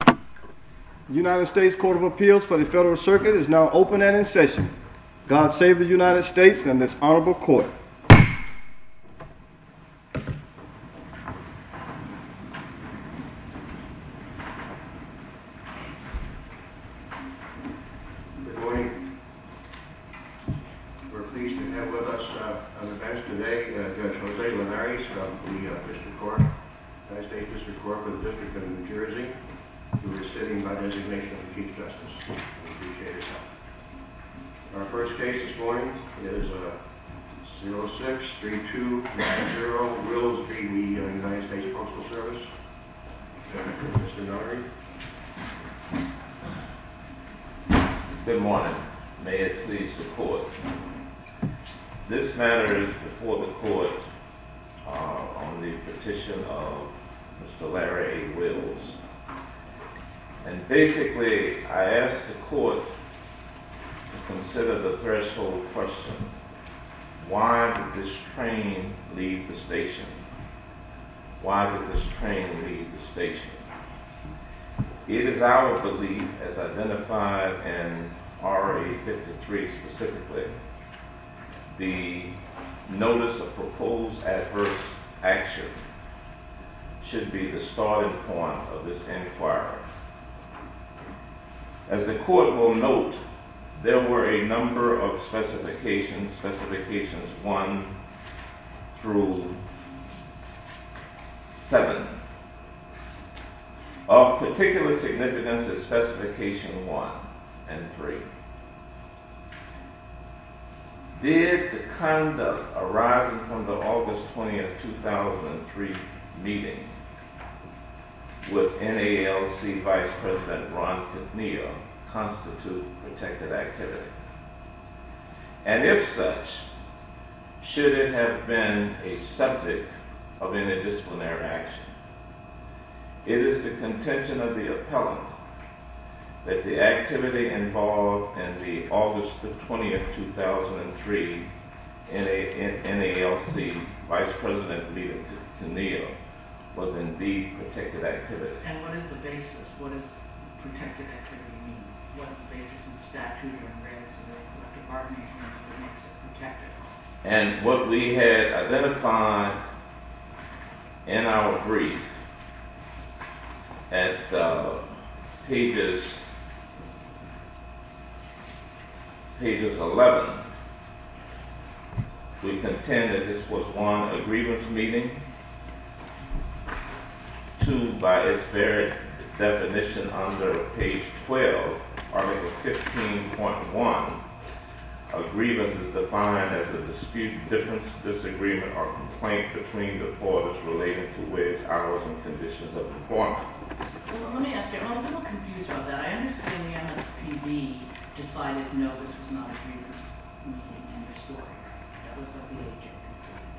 The United States Court of Appeals for the Federal Circuit is now open and in session. God save the United States and this honorable court. Good morning. We're pleased to have with us on the bench today Judge Jose Linares of the District Court, United States District Court for the District of New Jersey, who is sitting by designation of the Chief Justice. We appreciate his help. Our first case this morning is 06-3290, Wills v. United States Postal Service. Mr. Notary. Good morning. May it please the court. This matter is before the court on the petition of Mr. Larry Wills. And basically I ask the court to consider the threshold question. Why did this train leave the station? It is our belief, as identified in RA 53 specifically, the notice of proposed adverse action should be the starting point of this inquiry. As the court will note, there were a number of specifications, specifications 1 through 7. Of particular significance is specification 1 and 3. Did the conduct arising from the August 20th, 2003 meeting with NALC Vice President Ron Pinillo constitute protective activity? And if such, should it have been a subject of interdisciplinary action? It is the contention of the appellant that the activity involved in the August 20th, 2003 NALC Vice President meeting with Pinillo was indeed protective activity. And what is the basis? What does protective activity mean? What is the basis of the statute? And what we had identified in our brief at pages 11, we contend that this was one, a grievance meeting. Two, by its very definition under page 12, article 15.1, a grievance is defined as a dispute, difference, disagreement, or complaint between the parties related to which hours and conditions of performance. Well, let me ask you, I'm a little confused about that. I understand the MSPB decided no, this was not a grievance meeting in their story.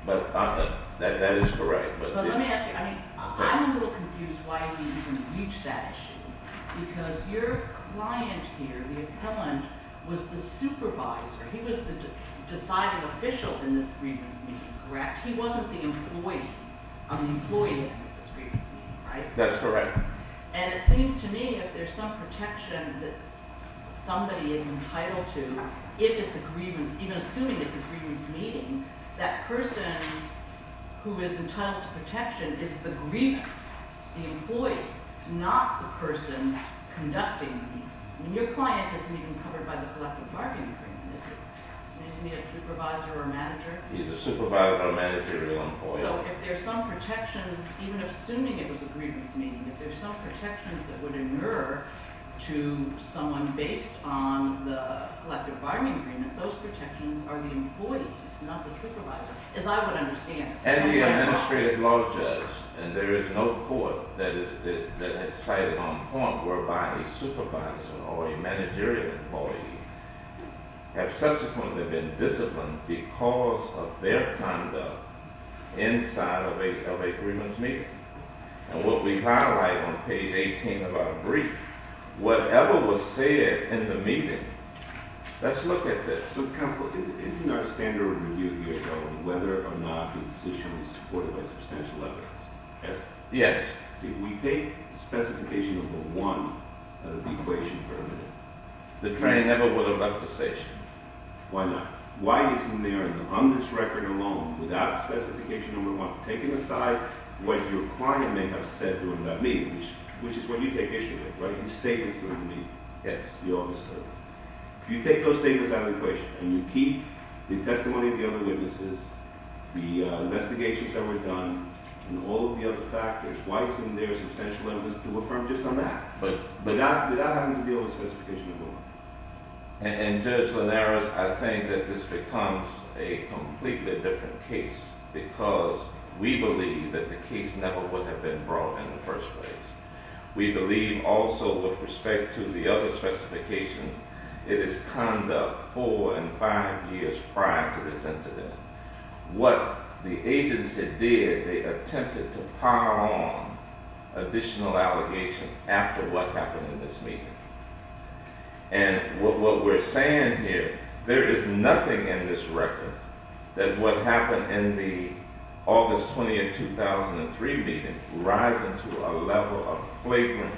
That is correct. But let me ask you, I'm a little confused why you can reach that issue because your client here, the appellant, was the supervisor. He was the deciding official in this grievance meeting, correct? He wasn't the employee. I'm the employee of this grievance meeting, right? That's correct. And it seems to me that there's some protection that somebody is entitled to if it's a grievance, even assuming it's a grievance meeting, that person who is entitled to protection is the grievant, the employee, not the person conducting the meeting. And your client isn't even covered by the collective bargaining agreement, is he? Isn't he a supervisor or a manager? He's a supervisor, a manager, or an employee. So if there's some protection, even assuming it was a grievance meeting, if there's some protections that would incur to someone based on the collective bargaining agreement, those protections are the employees, not the supervisor, as I would understand. As the administrative law judge, and there is no court that has cited on point whereby a supervisor or a managerial employee has subsequently been disciplined because of their conduct inside of a grievance meeting. And what we highlight on page 18 of our brief, whatever was said in the meeting, let's look at this. So, counsel, isn't our standard review here, whether or not the decision was supported by substantial evidence? Yes. Did we take specification number one of the equation for a minute? The train never would have left the station. Why not? Why isn't there on this record alone, without specification number one, taking aside what your client may have said during that meeting, which is what you take issue with, right? You state this during the meeting. Yes, you always do. If you take those statements out of the equation and you keep the testimony of the other witnesses, the investigations that were done, and all of the other factors, why isn't there substantial evidence to affirm just on that? But without having to deal with specification number one. And Judge Linares, I think that this becomes a completely different case because we believe that the case never would have been brought in the first place. We believe also with respect to the other specification, it is conduct four and five years prior to this incident. What the agency did, they attempted to power on additional allegation after what happened in this meeting. And what we're saying here, there is nothing in this record that would happen in the August 20th, 2003 meeting, rising to a level of flagrant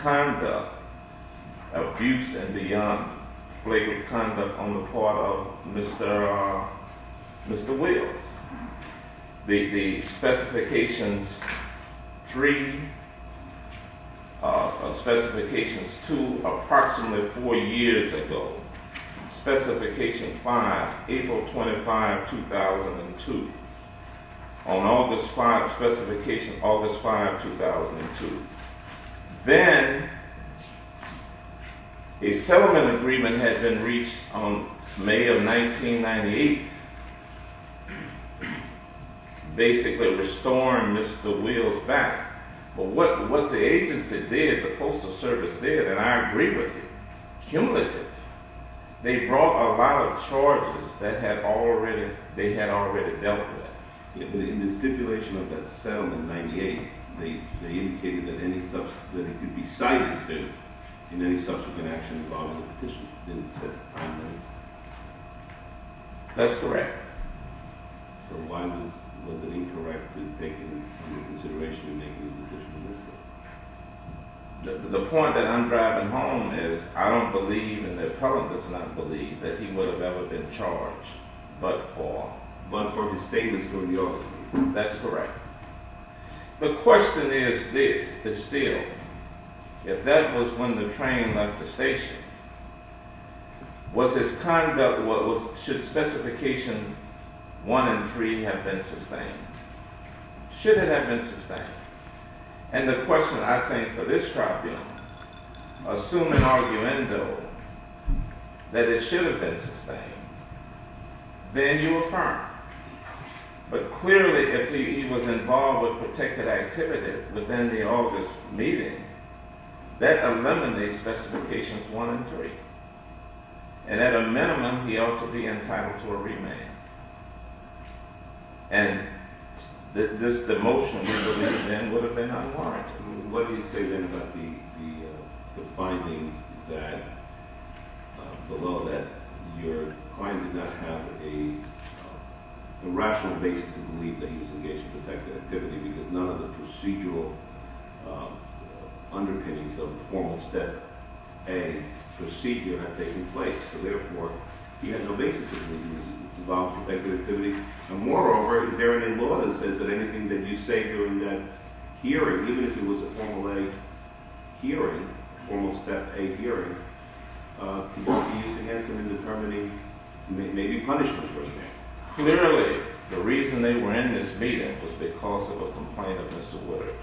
conduct, abuse and beyond, flagrant conduct on the part of Mr. Wills. The specifications three, specifications two, approximately four years ago, specification five, April 25, 2002. On August five, specification August five, 2002. Then, a settlement agreement had been reached on May of 1998, basically restoring Mr. Wills back. But what the agency did, the postal service did, and I agree with you, cumulative, they brought a lot of charges that they had already dealt with. In the stipulation of that settlement in 98, they indicated that he could be cited in any subsequent action involving the petition in September 1998. That's correct. So why was it incorrect in taking into consideration in making the decision to do so? The point that I'm driving home is, I don't believe, and the appellant does not believe, that he would have ever been charged but for his statements from the office. That's correct. The question is this, is still, if that was when the train left the station, was his conduct, should specification one and three have been sustained? Should it have been sustained? And the question, I think, for this tribunal, assuming arguendo that it should have been sustained, then you affirm. But clearly, if he was involved with protected activity within the August meeting, that eliminates specifications one and three. And at a minimum, he ought to be entitled to a remand. And this demotion would have been unwarranted. What do you say then about the finding that, below that, your client did not have a rational basis to believe that he was engaged in protected activity because none of the procedural underpinnings of Formal Step A procedure had taken place. So therefore, he had no basis to believe he was involved with protected activity. And moreover, therein in law, it says that anything that you say to him, that hearing, even if it was a Formal A hearing, Formal Step A hearing, could not be used against him in determining maybe punishment for the man. Clearly, the reason they were in this meeting was because of a complaint of Mr. Woodard.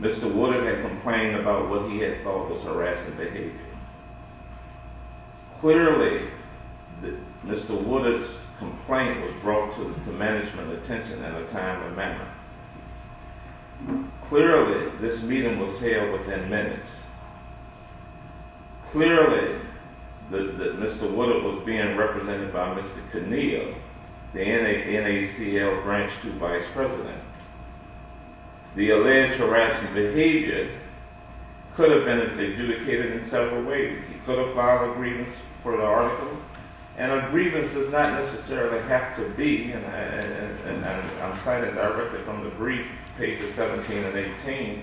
Mr. Woodard had complained about what he had thought was harassing behavior. Clearly, Mr. Woodard's complaint was brought to management attention in a timely manner. Clearly, this meeting was held within minutes. Clearly, Mr. Woodard was being represented by Mr. Conneal, the NACL Branch 2 Vice President. The alleged harassment behavior could have been adjudicated in several ways. He could have filed a grievance for the article. And a grievance does not necessarily have to be, and I'm citing directly from the brief, pages 17 and 18,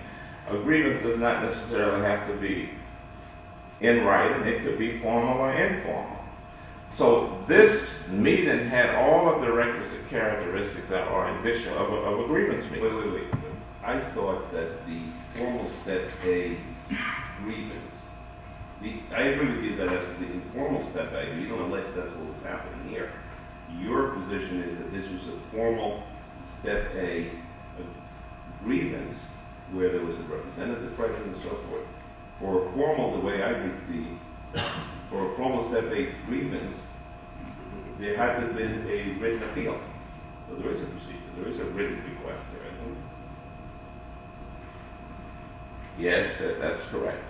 a grievance does not necessarily have to be in writing. It could be formal or informal. So, this meeting had all of the requisite characteristics that are indicial of a grievance meeting. Wait, wait, wait. I thought that the Formal Step A grievance, I agree with you that that's the Informal Step A. You don't allege that's what was happening here. Your position is that this was a Formal Step A grievance where there was a representative present and so forth. For a formal, the way I would see, for a Formal Step A grievance, there hasn't been a written appeal. There is a written request there, I know that. Yes, that's correct.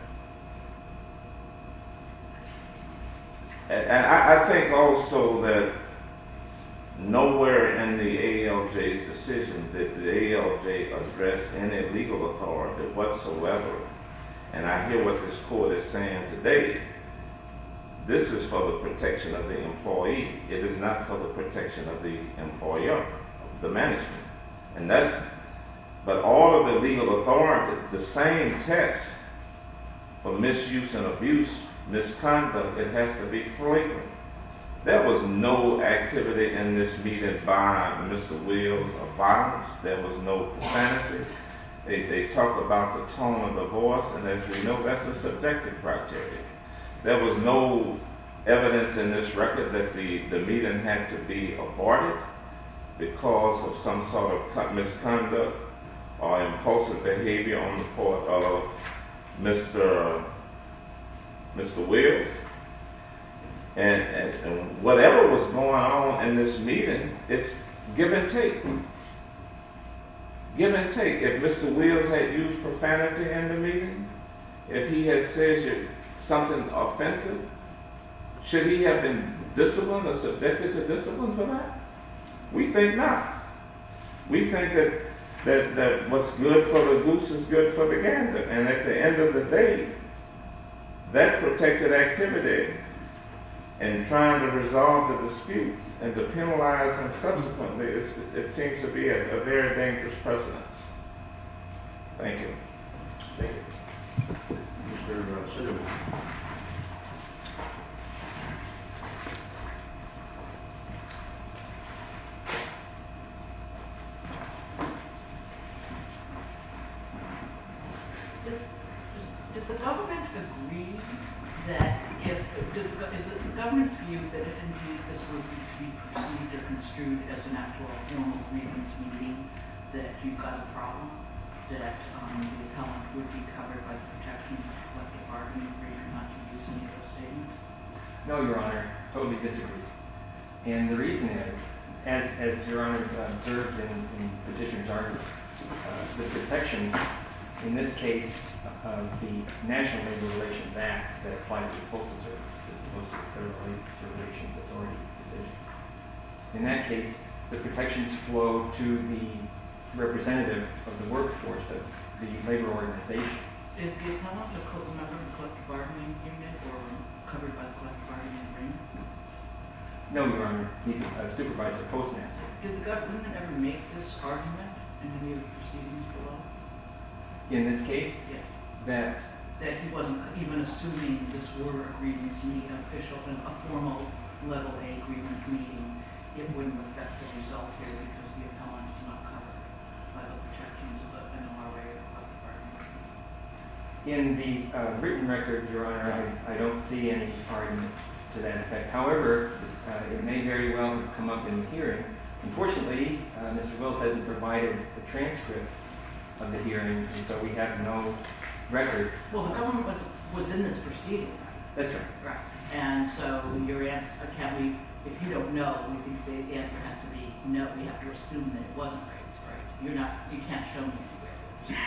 And I think also that nowhere in the AALJ's decision did the AALJ address any legal authority whatsoever. And I hear what this court is saying today. This is for the protection of the employee. It is not for the protection of the employer, the management. But all of the legal authority, the same test for misuse and abuse, misconduct, it has to be formal. There was no activity in this meeting by Mr. Wills of violence. There was no profanity. They talked about the tone of the voice, and as you know, that's a subjective criteria. There was no evidence in this record that the meeting had to be aborted because of some sort of misconduct or impulsive behavior on the part of Mr. Wills. And whatever was going on in this meeting, it's give and take. Give and take. If Mr. Wills had used profanity in the meeting, if he had said something offensive, should he have been disciplined or subjected to discipline for that? We think not. We think that what's good for the goose is good for the gander, and at the end of the day, that protected activity in trying to resolve the dispute and to penalize him subsequently, it seems to be a very dangerous precedence. Thank you. Thank you. Thank you very much. Does the government agree that if... ...construed as an actual formal grievance meeting that you've got a problem, that the appellant would be covered by the protection of the collective bargaining agreement not to use any of those statements? No, Your Honor. Totally disagree. And the reason is, as Your Honor observed in Petitioner's argument, the protections in this case of the National Labor Relations Act that applies to postal service as opposed to the Federal Labor Relations Authority decision. In that case, the protections flow to the representative of the workforce of the labor organization. Is the appellant a member of the collective bargaining agreement or covered by the collective bargaining agreement? No, Your Honor. He's a supervisor of Postmaster. Did the government ever make this argument in any of the proceedings below? In this case? Yes. That... ...a formal level A grievance meeting, it wouldn't affect the result here because the appellant is not covered by the protections of the NLRA or the collective bargaining agreement. In the written record, Your Honor, I don't see any pardon to that effect. However, it may very well come up in the hearing. Unfortunately, Mr. Wills hasn't provided the transcript of the hearing, and so we have no record. Well, the government was in this proceeding. That's right. Right. And so, if you don't know, the answer has to be no. We have to assume that it wasn't written. You're not... You can't show me anywhere.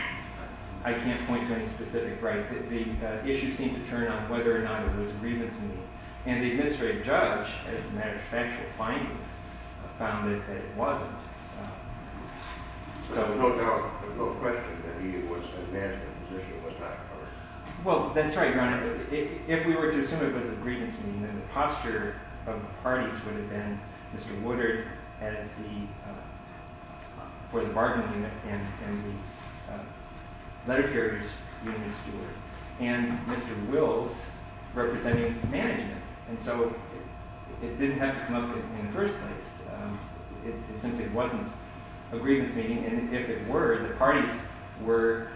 I can't point to any specific right. The issue seemed to turn on whether or not it was a grievance meeting. And the administrative judge, as a matter of factual findings, found that it wasn't. So, no doubt, there's no question that he was... that his position was not covered. Well, that's right, Your Honor. If we were to assume it was a grievance meeting, then the posture of the parties would have been Mr. Woodard as the... for the Bargain Unit and the Letter Carriers being the steward, and Mr. Wills representing management. And so, it didn't have to come up in the first place. It simply wasn't a grievance meeting. And if it were, the parties were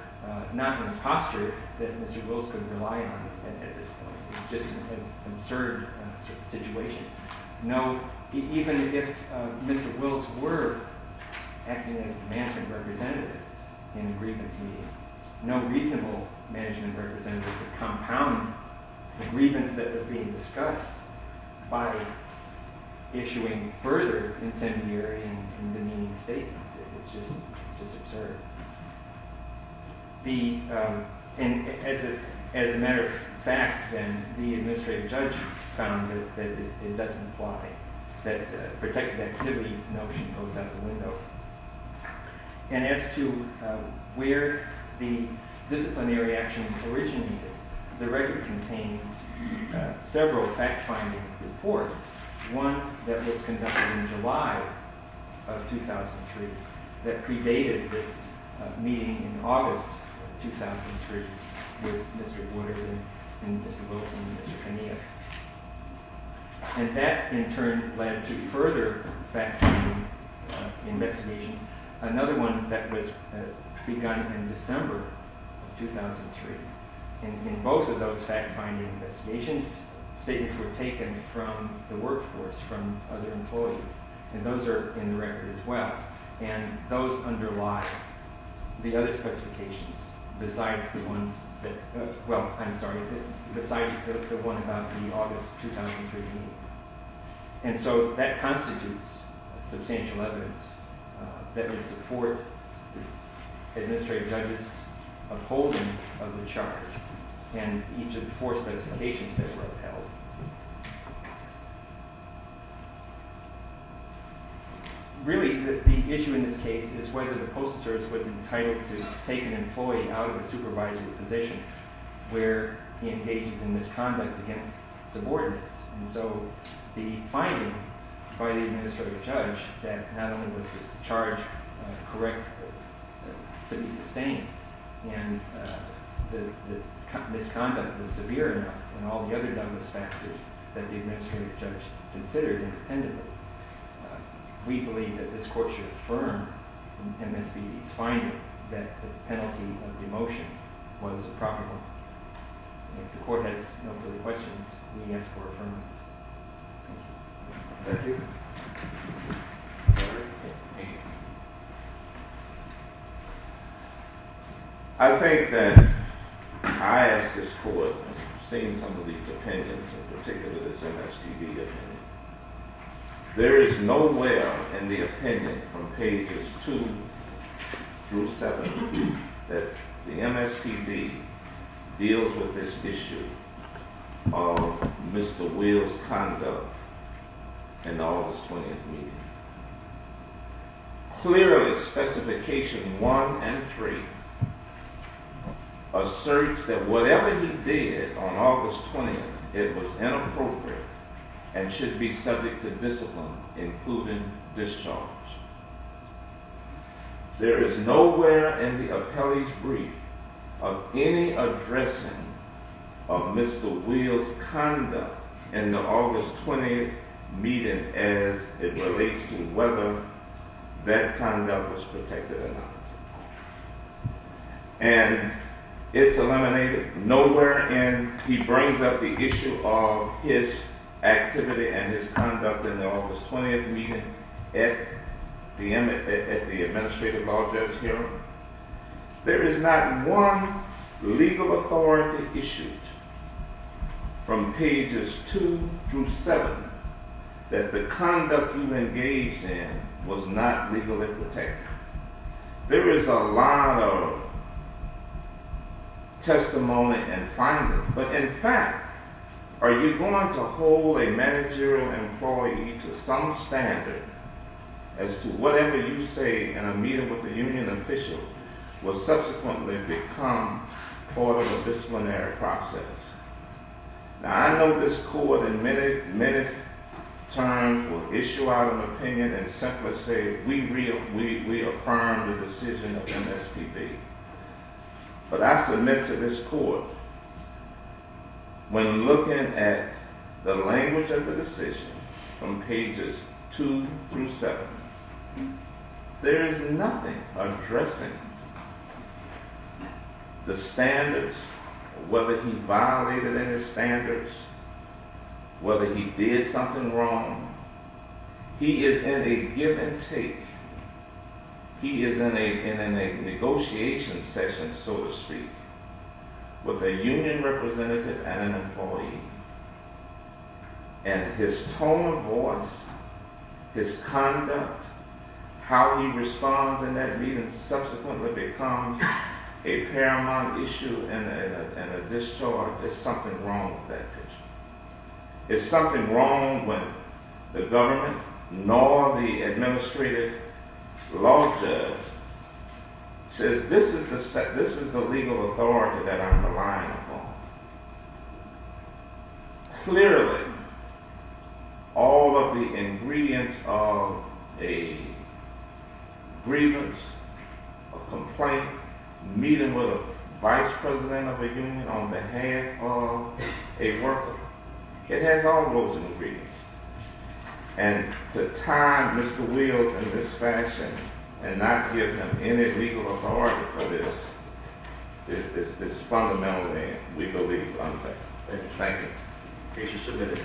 not in a posture that Mr. Wills could rely on at this point. It's just an absurd situation. No, even if Mr. Wills were acting as the management representative in a grievance meeting, no reasonable management representative could compound the grievance that was being discussed and demeaning statements. It's just... it's just absurd. The... and as a matter of fact, then, the administrative judge found that it doesn't apply, that protected activity notion goes out the window. And as to where the disciplinary action originated, the record contains several fact-finding reports, one that was conducted in July of 2003 that predated this meeting in August of 2003 with Mr. Waters and Mr. Wilson and Mr. Kenia. And that, in turn, led to further fact-finding investigations. Another one that was begun in December of 2003. In both of those fact-finding investigations, statements were taken from the workforce, from other employees. And those are in the record as well. And those underlie the other specifications besides the ones that... well, I'm sorry, besides the one about the August 2003 meeting. And so that constitutes substantial evidence that would support administrative judges' upholding of the charge and each of the four specifications that were upheld. Really, the issue in this case is whether the postal service was entitled to take an employee out of a supervisory position where he engages in misconduct against subordinates. And so the finding by the administrative judge that not only was the charge correct to be sustained and the misconduct was severe enough and all the other some of those factors that the administrative judge considered independently. We believe that this court should affirm in MSBD's finding that the penalty of demotion was a proper one. If the court has no further questions, we ask for affirmation. Thank you. Thank you. I think that I asked this court, and I've seen some of these opinions, in particular this MSDB opinion. There is nowhere in the opinion from pages 2 through 7 that the MSDB deals with this issue of Mr. Wheel's conduct in the August 20th meeting. Clearly, specification 1 and 3 asserts that whatever he did on August 20th, it was inappropriate and should be subject to discipline, including discharge. There is nowhere in the appellee's brief of any addressing of Mr. Wheel's conduct in the August 20th meeting as it relates to whether that conduct was protected or not. And it's eliminated. Nowhere in he brings up the issue of his activity and his conduct in the August 20th meeting at the administrative law judge hearing. There is not one legal authority issued from pages 2 through 7 that the conduct you engaged in was not legally protected. There is a lot of testimony and finding, but in fact, are you going to hold a managerial employee to some standard as to whatever you say in a meeting with a union official will subsequently become part of a disciplinary process? Now, I know this court in minutes' time will issue out an opinion and simply say, we affirm the decision of MSPB. But I submit to this court, when looking at the language of the decision from pages 2 through 7, there is nothing addressing the standards, whether he violated any standards, whether he did something wrong. He is in a give and take. He is in a negotiation session, so to speak, with a union representative and an employee. And his tone of voice, his conduct, how he responds in that meeting subsequently becomes a paramount issue and a discharge. There's something wrong with that issue. There's something wrong with the government nor the administrative law judge says this is the legal authority that I'm relying upon. Clearly, all of the ingredients of a grievance, a complaint, meeting with a vice president of a union on behalf of a worker, it has all those ingredients. And to time Mr. Wills in this fashion and not give him any legal authority for this is fundamentally, we believe, unfair. Thank you. Case is submitted.